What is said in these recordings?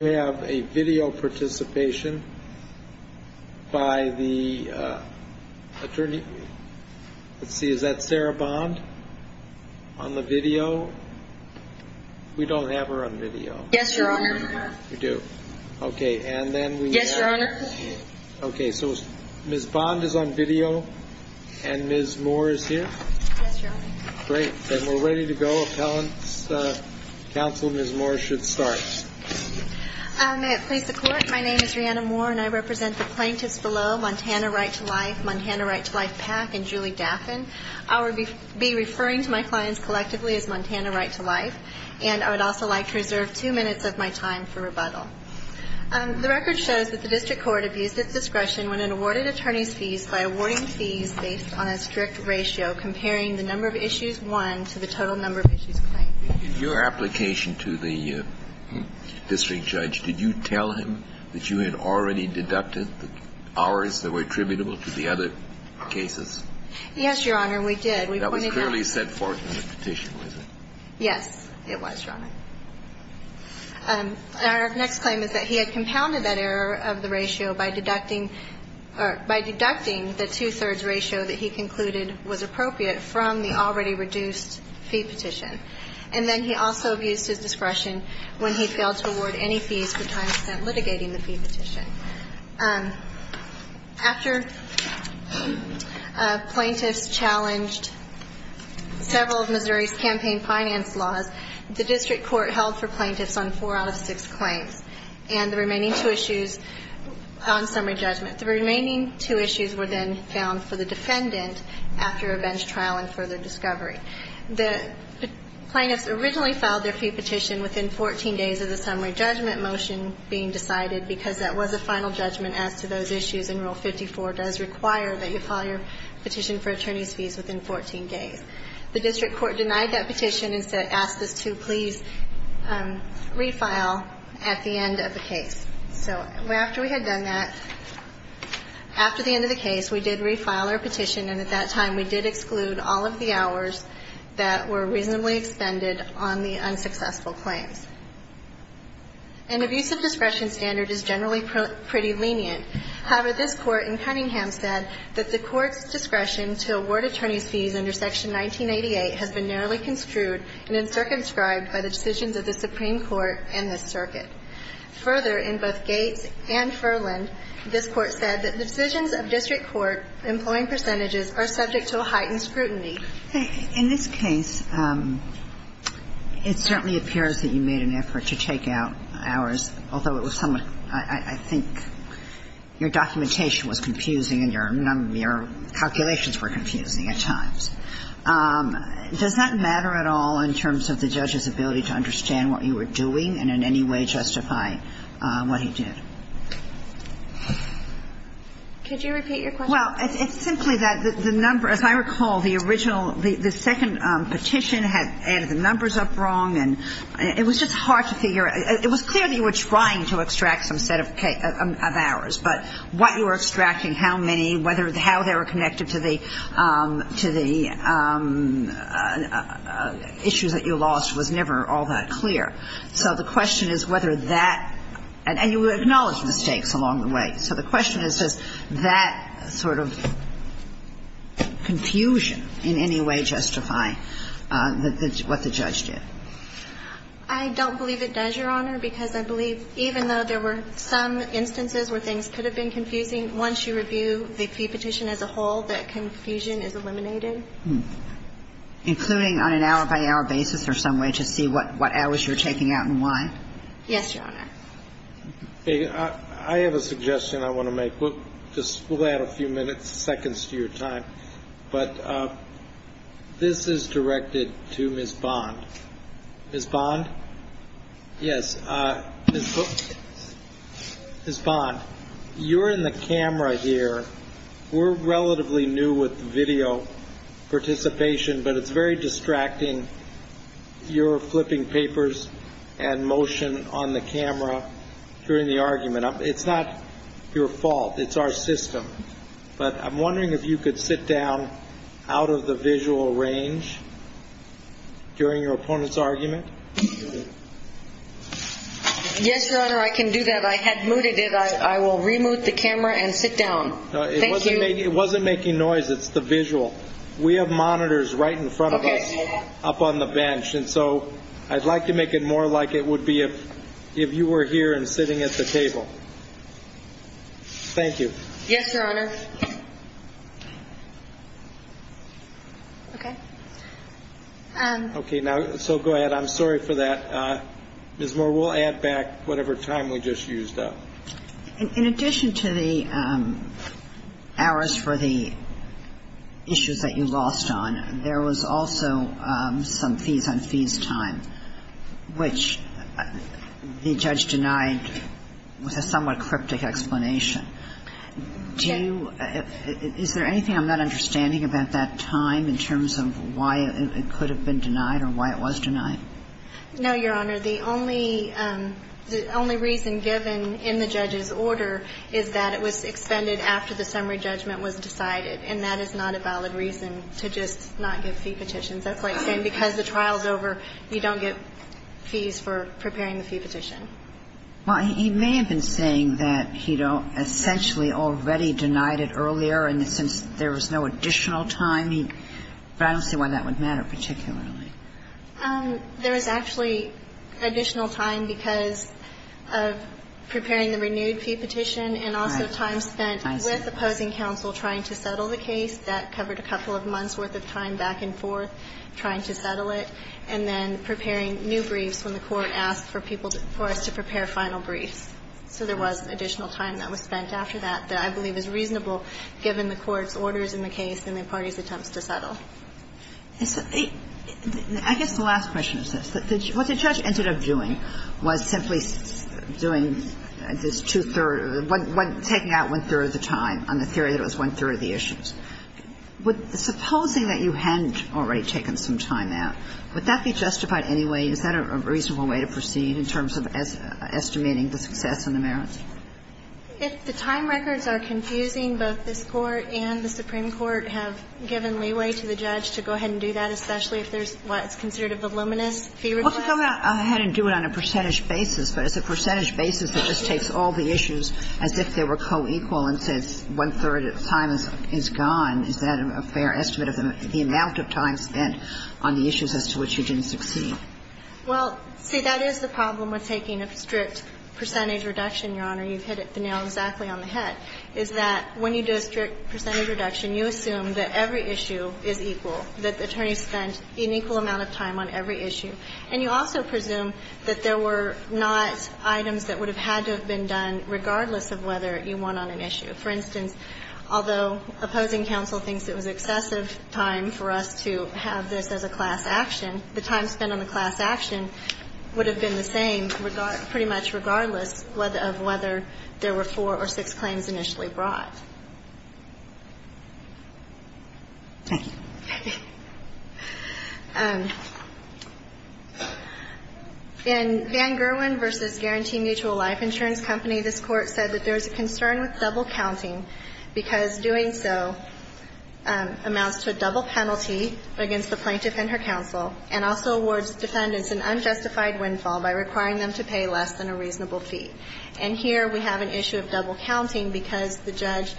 We have a video participation by the attorney, let's see, is that Sarah Bond on the video? We don't have her on video. Yes, Your Honor. We do. Okay, and then we... Yes, Your Honor. Okay, so Ms. Bond is on video and Ms. Moore is here? Yes, Your Honor. Great, then we're ready to go. Appellants, counsel, Ms. Moore should start. May it please the Court, my name is Rhianna Moore and I represent the plaintiffs below, Montana Right to Life, Montana Right to Life PAC, and Julie Daffin. I will be referring to my clients collectively as Montana Right to Life, and I would also like to reserve two minutes of my time for rebuttal. The record shows that the district court abused its discretion when it awarded attorneys fees by awarding fees based on a strict ratio, comparing the number of issues won to the total number of issues claimed. In your application to the district judge, did you tell him that you had already deducted the hours that were attributable to the other cases? Yes, Your Honor, we did. That was clearly set forth in the petition, was it? Yes, it was, Your Honor. Our next claim is that he had compounded that error of the ratio by deducting the two-thirds ratio that he concluded was appropriate from the already reduced fee petition, and then he also abused his discretion when he failed to award any fees for time spent litigating the fee petition. After plaintiffs challenged several of Missouri's campaign finance laws, the district court held for plaintiffs on four out of six claims, and the remaining two issues on summary judgment. The remaining two issues were then found for the defendant after a bench trial and further discovery. The plaintiffs originally filed their fee petition within 14 days of the summary judgment motion being decided, because that was a final judgment as to those issues, and Rule 54 does require that you file your petition for attorneys fees within 14 days. The district court denied that petition and asked us to please refile at the end of the case. So after we had done that, after the end of the case, we did refile our petition, and at that time we did exclude all of the hours that were reasonably expended on the unsuccessful claims. An abusive discretion standard is generally pretty lenient. However, this Court in Cunningham said that the Court's discretion to award attorneys fees under Section 1988 has been narrowly construed and uncircumscribed by the decisions of the Supreme Court and this circuit. Further, in both Gates and Furland, this Court said that the decisions of district court employing percentages are subject to a heightened scrutiny. In this case, it certainly appears that you made an effort to take out hours, although it was somewhat – I think your documentation was confusing and your calculations were confusing at times. Does that matter at all in terms of the judge's ability to understand what you were doing and in any way justify what he did? Could you repeat your question? Well, it's simply that the number – as I recall, the original – the second petition had added the numbers up wrong, and it was just hard to figure – it was clear that you were trying to extract some set of hours, but what you were extracting, how many, whether – how they were connected to the issues that you lost was never all that clear. So the question is whether that – and you acknowledged mistakes along the way. So the question is, does that sort of confusion in any way justify what the judge did? I don't believe it does, Your Honor, because I believe even though there were some instances where things could have been confusing, once you review the fee petition as a whole, that confusion is eliminated. Including on an hour-by-hour basis or some way to see what hours you're taking out and why? Yes, Your Honor. I have a suggestion I want to make. We'll just – we'll add a few minutes, seconds to your time. But this is directed to Ms. Bond. Ms. Bond? Yes. Ms. Bond, you're in the camera here. We're relatively new with video participation, but it's very distracting, your flipping papers and motion on the camera during the argument. It's not your fault. It's our system. But I'm wondering if you could sit down out of the visual range during your opponent's argument. Yes, Your Honor, I can do that. I had muted it. I will re-mute the camera and sit down. Thank you. It wasn't making noise. It's the visual. We have monitors right in front of us up on the bench. And so I'd like to make it more like it would be if you were here and sitting at the table. Thank you. Yes, Your Honor. Okay. Okay, now, so go ahead. I'm sorry for that. Ms. Moore, we'll add back whatever time we just used up. In addition to the hours for the issues that you lost on, there was also some fees on fees time, which the judge denied with a somewhat cryptic explanation. Do you – is there anything I'm not understanding about that time in terms of why it could have been denied or why it was denied? No, Your Honor. The only reason given in the judge's order is that it was extended after the summary judgment was decided, and that is not a valid reason to just not give fee petitions. That's like saying because the trial is over, you don't get fees for preparing the fee petition. Well, he may have been saying that he don't – essentially already denied it earlier and since there was no additional time, he – but I don't see why that would matter particularly. There was actually additional time because of preparing the renewed fee petition and also time spent with opposing counsel trying to settle the case. That covered a couple of months' worth of time back and forth. Trying to settle it and then preparing new briefs when the Court asked for people to – for us to prepare final briefs. So there was additional time that was spent after that that I believe is reasonable given the Court's orders in the case and the parties' attempts to settle. I guess the last question is this. What the judge ended up doing was simply doing this two-third – taking out one-third of the time on the theory that it was one-third of the issues. Supposing that you hadn't already taken some time out, would that be justified anyway? Is that a reasonable way to proceed in terms of estimating the success and the merits? If the time records are confusing, both this Court and the Supreme Court have given leeway to the judge to go ahead and do that, especially if there's what's considered a voluminous fee request. Well, to go ahead and do it on a percentage basis, but it's a percentage basis that just takes all the issues as if they were co-equal and says one-third of the time is gone, is that a fair estimate of the amount of time spent on the issues as to which you didn't succeed? Well, see, that is the problem with taking a strict percentage reduction, Your Honor. You've hit the nail exactly on the head, is that when you do a strict percentage reduction, you assume that every issue is equal, that the attorneys spent an equal amount of time on every issue. And you also presume that there were not items that would have had to have been done regardless of whether you won on an issue. For instance, although opposing counsel thinks it was excessive time for us to have this as a class action, the time spent on the class action would have been the same pretty much regardless of whether there were four or six claims initially brought. Thank you. In Van Gerwen v. Guarantee Mutual Life Insurance Company, this Court said that there is a concern with double counting because doing so amounts to a double penalty against the plaintiff and her counsel and also awards defendants an unjustified windfall by requiring them to pay less than a reasonable fee. And here we have an issue of double counting because the judge,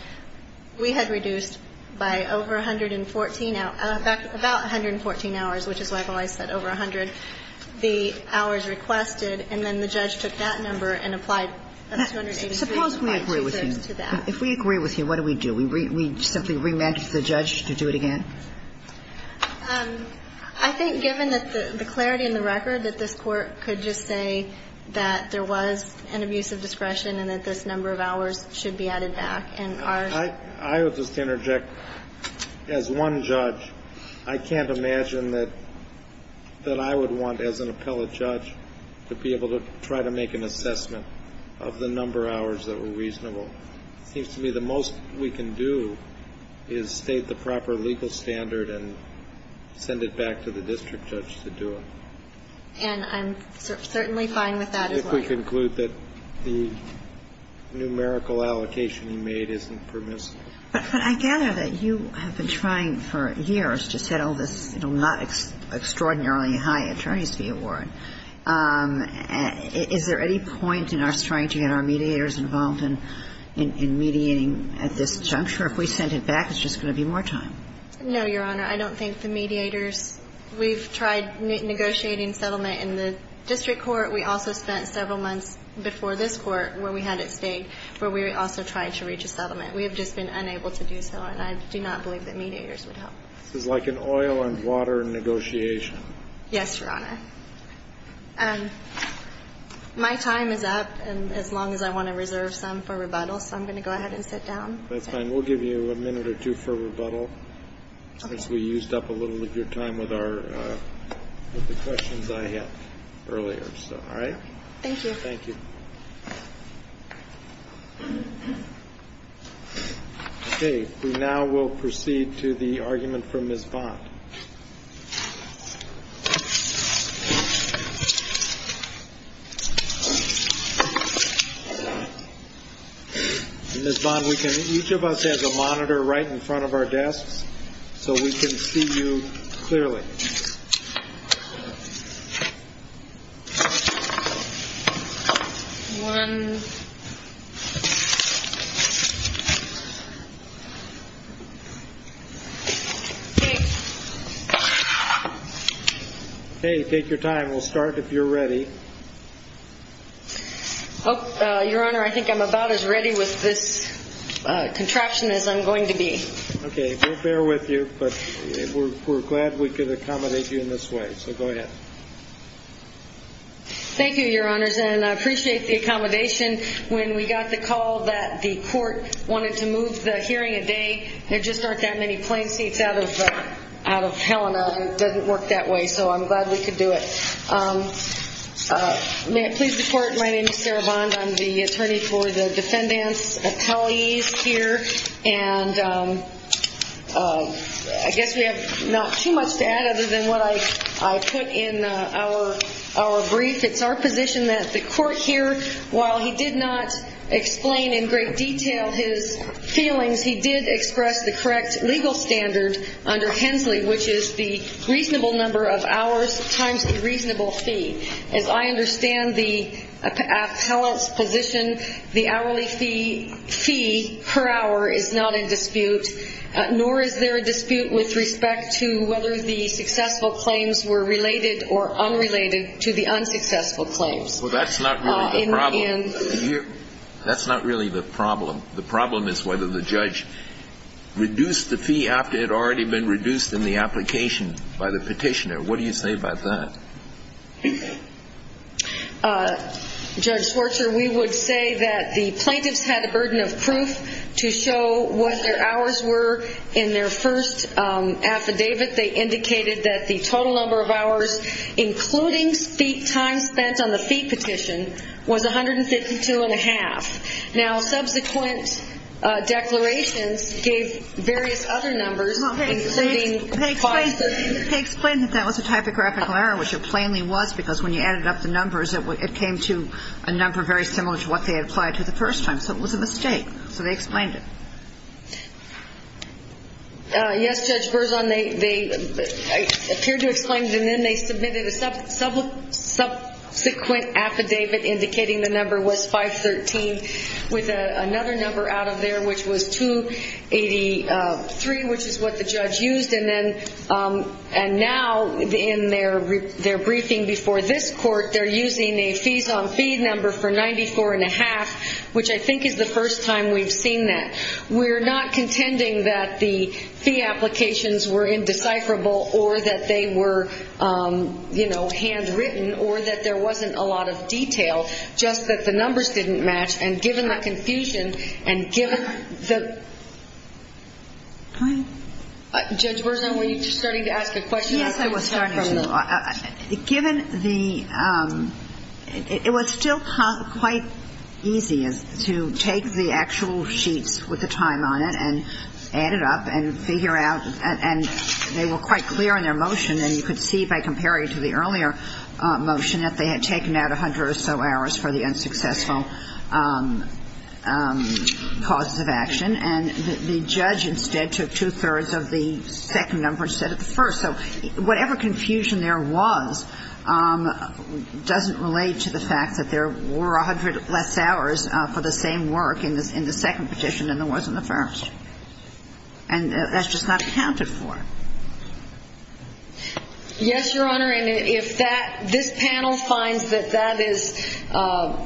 we had reduced by over 114, about 114 hours, which is why I said over 100, the hours requested and then the judge took that number and applied 283 to that. Suppose we agree with you. If we agree with you, what do we do? We simply remand the judge to do it again? I think given the clarity in the record that this Court could just say that there was an abuse of discretion and that this number of hours should be added back. And our ---- I would just interject. As one judge, I can't imagine that I would want as an appellate judge to be able to try to make an assessment of the number of hours that were reasonable. It seems to me the most we can do is state the proper legal standard and send it back to the district judge to do it. And I'm certainly fine with that as well. But I would simply conclude that the numerical allocation you made isn't permissible. But I gather that you have been trying for years to settle this, you know, not extraordinarily high attorney's fee award. Is there any point in us trying to get our mediators involved in mediating at this juncture? If we send it back, it's just going to be more time. No, Your Honor. I don't think the mediators ---- we've tried negotiating settlement in the district court. We also spent several months before this court where we had it stayed, where we also tried to reach a settlement. We have just been unable to do so. And I do not believe that mediators would help. This is like an oil and water negotiation. Yes, Your Honor. My time is up, as long as I want to reserve some for rebuttal. So I'm going to go ahead and sit down. That's fine. We'll give you a minute or two for rebuttal. Okay. I think we used up a little of your time with our ---- with the questions I had earlier. So, all right? Thank you. Thank you. Okay. We now will proceed to the argument from Ms. Bond. Ms. Bond, we can ---- each of us has a monitor right in front of our desks so we can see you clearly. Okay. Take your time. We'll start if you're ready. Your Honor, I think I'm about as ready with this contraption as I'm going to be. Okay. We'll bear with you. But we're glad we could accommodate you in this way. So go ahead. Thank you, Your Honors. And I appreciate the accommodation. When we got the call that the court wanted to move the hearing a day, there just aren't that many plain seats out of Helena. It doesn't work that way. So I'm glad we could do it. May it please the Court, my name is Sarah Bond. I'm the attorney for the defendant's appellees here. And I guess we have not too much to add other than what I put in our brief. It's our position that the court here, while he did not explain in great detail his feelings, he did express the correct legal standard under Hensley, which is the reasonable number of hours times the reasonable fee. As I understand the appellant's position, the hourly fee per hour is not in dispute, nor is there a dispute with respect to whether the successful claims were related or unrelated to the unsuccessful claims. Well, that's not really the problem. That's not really the problem. The problem is whether the judge reduced the fee after it had already been reduced in the application by the petitioner. What do you say about that? Judge Schwartzer, we would say that the plaintiffs had a burden of proof to show what their hours were in their first affidavit. They indicated that the total number of hours, including time spent on the fee petition, was 152.5. Now, subsequent declarations gave various other numbers, including 5. They explained that that was a typographical error, which it plainly was, because when you added up the numbers it came to a number very similar to what they had applied to the first time. So it was a mistake. So they explained it. Yes, Judge Berzon, they appeared to have explained it, and then they submitted a subsequent affidavit indicating the number was 513, with another number out of there, which was 283, which is what the judge used. And now, in their briefing before this court, they're using a fees-on-fee number for 94.5, which I think is the first time we've seen that. We're not contending that the fee applications were indecipherable or that they were handwritten or that there wasn't a lot of detail, just that the numbers didn't match. And given the confusion and given the ‑‑ Hi. Judge Berzon, were you starting to ask a question? Yes, I was starting to. Given the ‑‑ it was still quite easy to take the actual sheets with the time on it and add it up and figure out, and they were quite clear in their motion, and you could see by comparing it to the earlier motion that they had taken out 100 or so hours for the unsuccessful causes of action, and the judge instead took two-thirds of the second number instead of the first. So whatever confusion there was doesn't relate to the fact that there were 100 less hours for the same work in the second petition than there was in the first. And that's just not accounted for. Yes, Your Honor, and if this panel finds that that is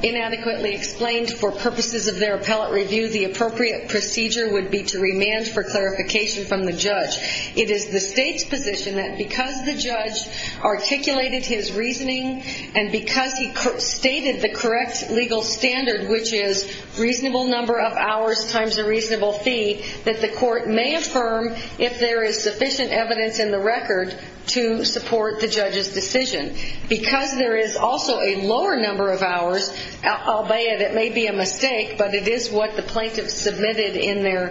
inadequately explained for purposes of their appellate review, the appropriate procedure would be to remand for clarification from the judge. It is the State's position that because the judge articulated his reasoning and because he stated the correct legal standard, which is reasonable number of hours times a reasonable fee, that the court may affirm if there is sufficient evidence in the record to support the judge's decision. Because there is also a lower number of hours, albeit it may be a mistake, but it is what the plaintiff submitted in their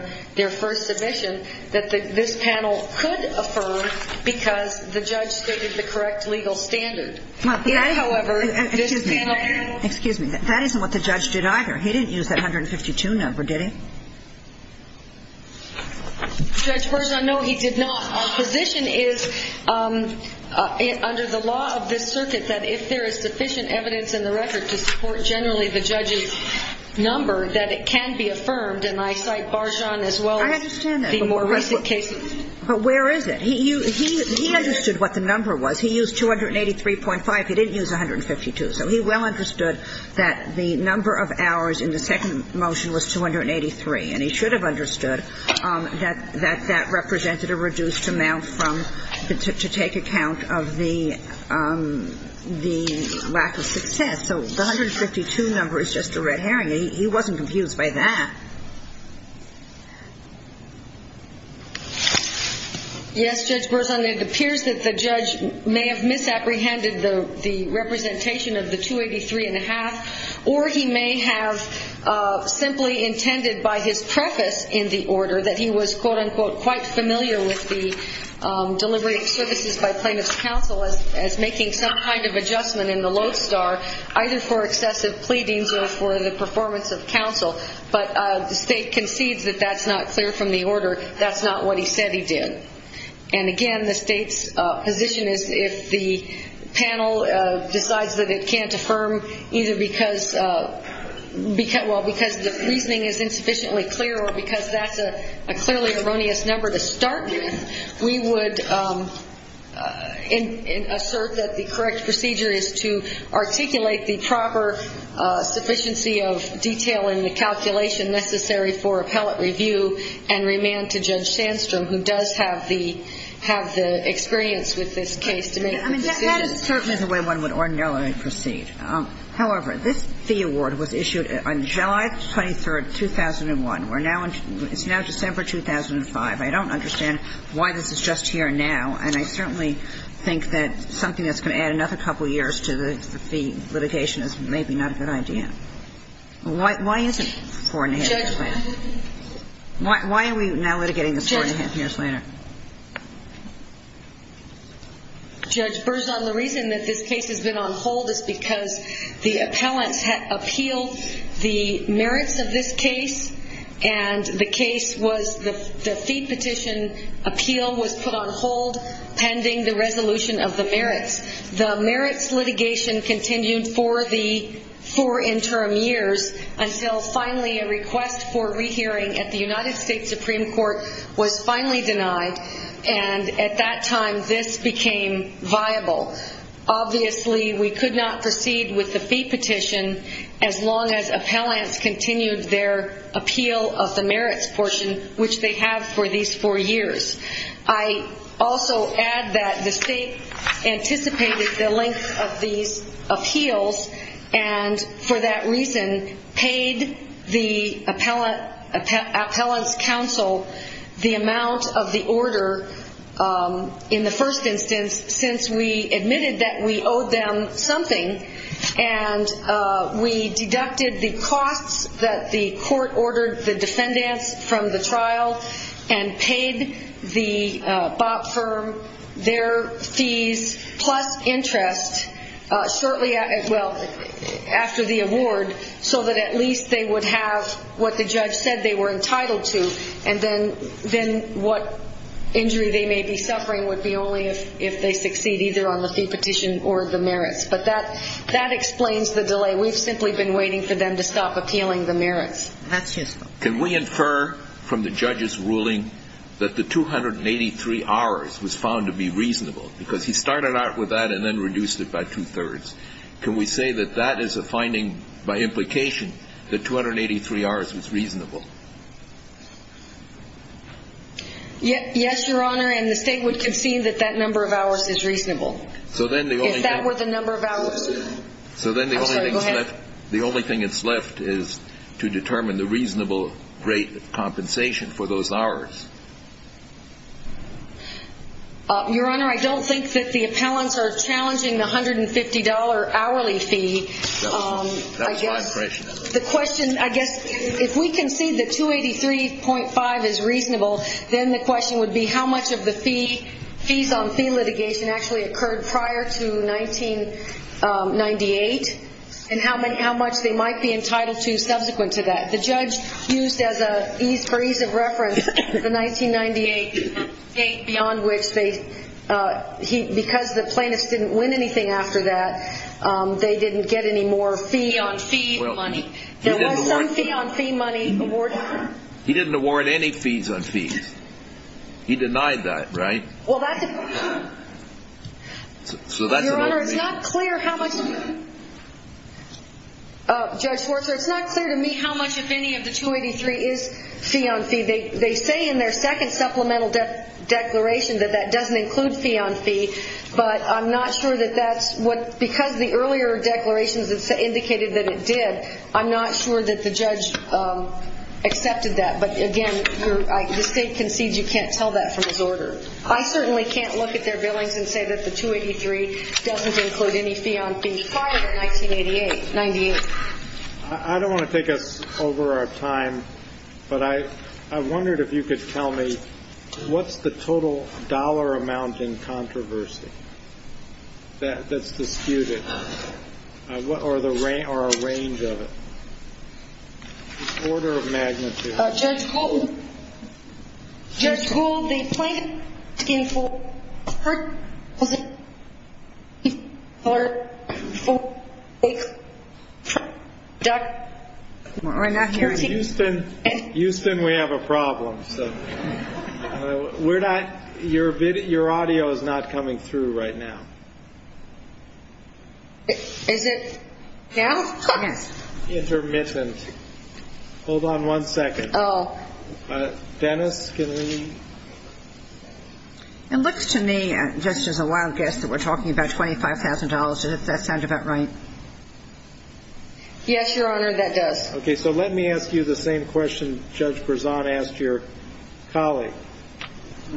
first submission, that this panel could affirm because the judge stated the correct legal standard. However, this panel ‑‑ Judge Barjan, no, he did not. Our position is, under the law of this circuit, that if there is sufficient evidence in the record to support generally the judge's number, that it can be affirmed, and I cite Barjan as well as the more recent cases. I understand that, but where is it? He understood what the number was. He used 283.5. He didn't use 152. So he well understood that the number of hours in the second motion was 283, and he should have understood that that represented a reduced amount to take account of the lack of success. So the 152 number is just a red herring. He wasn't confused by that. Yes, Judge Berzon, it appears that the judge may have misapprehended the representation of the 283.5, or he may have simply intended by his preface in the order that he was, quote, unquote, quite familiar with the delivery of services by plaintiff's counsel as making some kind of adjustment in the lodestar, either for excessive pleadings or for the performance of counsel. But the state concedes that that's not clear from the order. That's not what he said he did. And, again, the state's position is, if the panel decides that it can't affirm either because, well, because the reasoning is insufficiently clear or because that's a clearly erroneous number to start with, we would assert that the correct procedure is to articulate the proper sufficiency of detail in the calculation necessary for appellate review and remand to Judge Sandstrom, who does have the experience with this case to make the decision. I mean, that is certainly the way one would ordinarily proceed. However, this fee award was issued on July 23, 2001. We're now in – it's now December 2005. I don't understand why this is just here now, and I certainly think that something that's going to add another couple of years to the fee litigation is maybe not a good idea. Why is it 4-1-1-2? Why are we now litigating this 4-1-1-2 years later? Judge Berzon, the reason that this case has been on hold is because the appellants had appealed the merits of this case, and the case was the fee petition appeal was put on hold pending the resolution of the merits. The merits litigation continued for the four interim years until finally a request for rehearing at the United States Supreme Court was finally denied, and at that time this became viable. Obviously, we could not proceed with the fee petition as long as appellants continued their appeal of the merits portion, which they have for these four years. I also add that the state anticipated the length of these appeals, and for that reason paid the appellants' counsel the amount of the order in the first instance since we admitted that we owed them something, and we deducted the costs that the court ordered the defendants from the trial and paid the BOP firm their fees plus interest shortly after the award so that at least they would have what the judge said they were entitled to, and then what injury they may be suffering would be only if they succeed either on the fee petition or the merits. But that explains the delay. We've simply been waiting for them to stop appealing the merits. Can we infer from the judge's ruling that the 283 hours was found to be reasonable because he started out with that and then reduced it by two-thirds? Can we say that that is a finding by implication that 283 hours was reasonable? Yes, Your Honor, and the state would concede that that number of hours is reasonable. Is that worth a number of hours? I'm sorry, go ahead. The only thing that's left is to determine the reasonable rate of compensation for those hours. Your Honor, I don't think that the appellants are challenging the $150 hourly fee. That was my impression. The question, I guess, if we concede that 283.5 is reasonable, then the question would be how much of the fees on fee litigation actually occurred prior to 1998, and how much they might be entitled to subsequent to that. The judge used as an ease of reference the 1998 state, beyond which because the plaintiffs didn't win anything after that, they didn't get any more fee-on-fee money. There was some fee-on-fee money awarded. He didn't award any fees on fees. He denied that, right? Your Honor, it's not clear to me how much of any of the 283 is fee-on-fee. They say in their second supplemental declaration that that doesn't include fee-on-fee, but I'm not sure that that's what, because the earlier declarations indicated that it did, I'm not sure that the judge accepted that. But again, the state concedes you can't tell that from his order. I certainly can't look at their billings and say that the 283 doesn't include any fee-on-fee prior to 1988. I don't want to take us over our time, but I wondered if you could tell me what's the total dollar amount in controversy that's disputed, or a range of it, order of magnitude. Judge Gould, Judge Gould, the plaintiff's case for her was a $348 fraud. We're not hearing anything. Houston, Houston, we have a problem. We're not, your audio is not coming through right now. Is it now? Yes. Intermittent. Hold on one second. Oh. Dennis, can we? It looks to me, just as a wild guess, that we're talking about $25,000. Does that sound about right? Yes, Your Honor, that does. Okay. So let me ask you the same question Judge Berzon asked your colleague.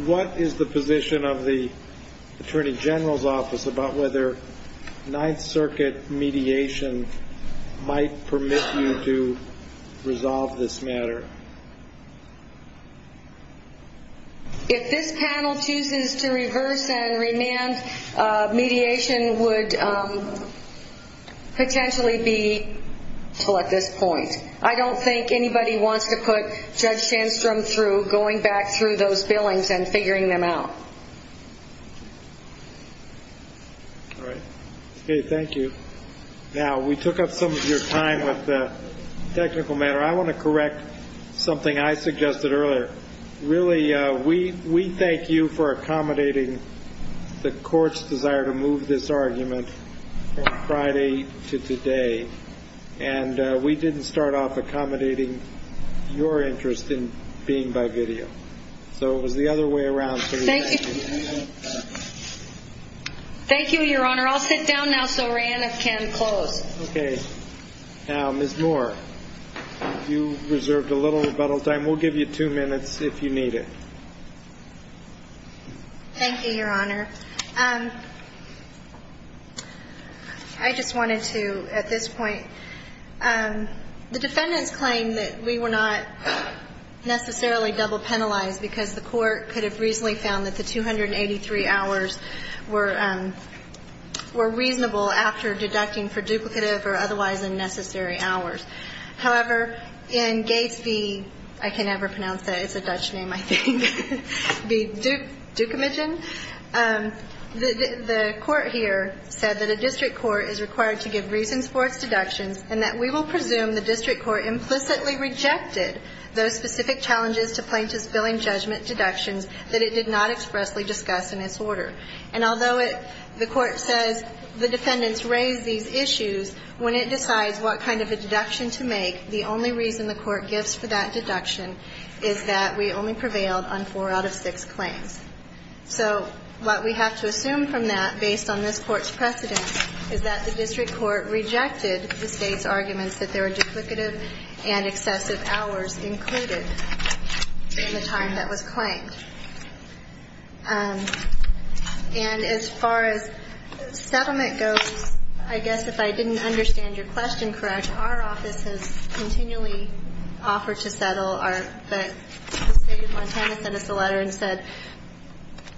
What is the position of the Attorney General's Office about whether Ninth Circuit mediation might permit you to resolve this matter? If this panel chooses to reverse and remand, mediation would potentially be until at this point. I don't think anybody wants to put Judge Sandstrom through going back through those billings and figuring them out. All right. Okay. Thank you. Now, we took up some of your time with the technical matter. I want to correct something I suggested earlier. Really, we thank you for accommodating the Court's desire to move this argument from Friday to today, and we didn't start off accommodating your interest in being by video. So it was the other way around. Thank you. Thank you, Your Honor. I'll sit down now so Rhian if can close. Okay. Now, Ms. Moore, you reserved a little rebuttal time. We'll give you two minutes if you need it. Thank you, Your Honor. I just wanted to, at this point, the defendants claim that we were not necessarily double penalized because the Court could have reasonably found that the 283 hours were reasonable after deducting for duplicative or otherwise unnecessary hours. However, in Gates v. I can't ever pronounce that. It's a Dutch name, I think. The court here said that a district court is required to give reasons for its deductions and that we will presume the district court implicitly rejected those specific challenges to plaintiff's billing judgment deductions that it did not expressly discuss in its order. And although the court says the defendants raised these issues, when it decides what kind of a deduction to make, the only reason the court gives for that deduction is that we only prevailed on four out of six claims. So what we have to assume from that, based on this court's precedent, is that the district court rejected the state's arguments that there were duplicative and excessive hours included in the time that was claimed. And as far as settlement goes, I guess if I didn't understand your question correct, our office has continually offered to settle, but the State of Montana sent us a letter and said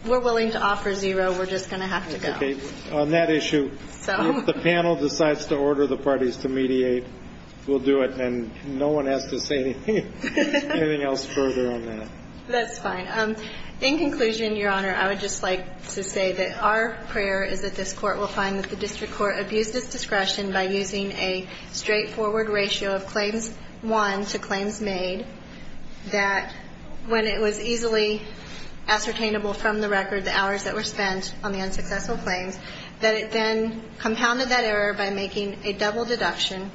we're willing to offer zero, we're just going to have to go. Okay. On that issue, if the panel decides to order the parties to mediate, we'll do it. And no one has to say anything else further on that. That's fine. In conclusion, Your Honor, I would just like to say that our prayer is that this court will find that the district court abused its discretion by using a straightforward ratio of claims won to claims made, that when it was easily ascertainable from the record the hours that were spent on the unsuccessful claims, that it then compounded that error by making a double deduction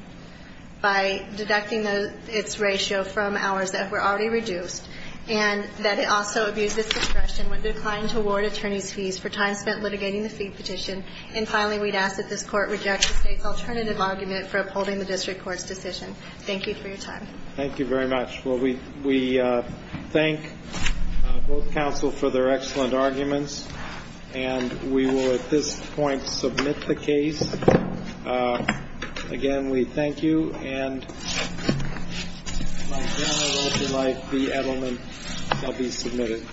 by deducting its ratio from hours that were already reduced, and that it also abused its discretion when declined to award attorney's fees for time spent litigating the fee petition. And finally, we'd ask that this court reject the State's alternative argument for upholding the district court's decision. Thank you for your time. Thank you very much. Well, we thank both counsel for their excellent arguments. And we will at this point submit the case. Again, we thank you. And, Your Honor, I would like the Edelman to be submitted.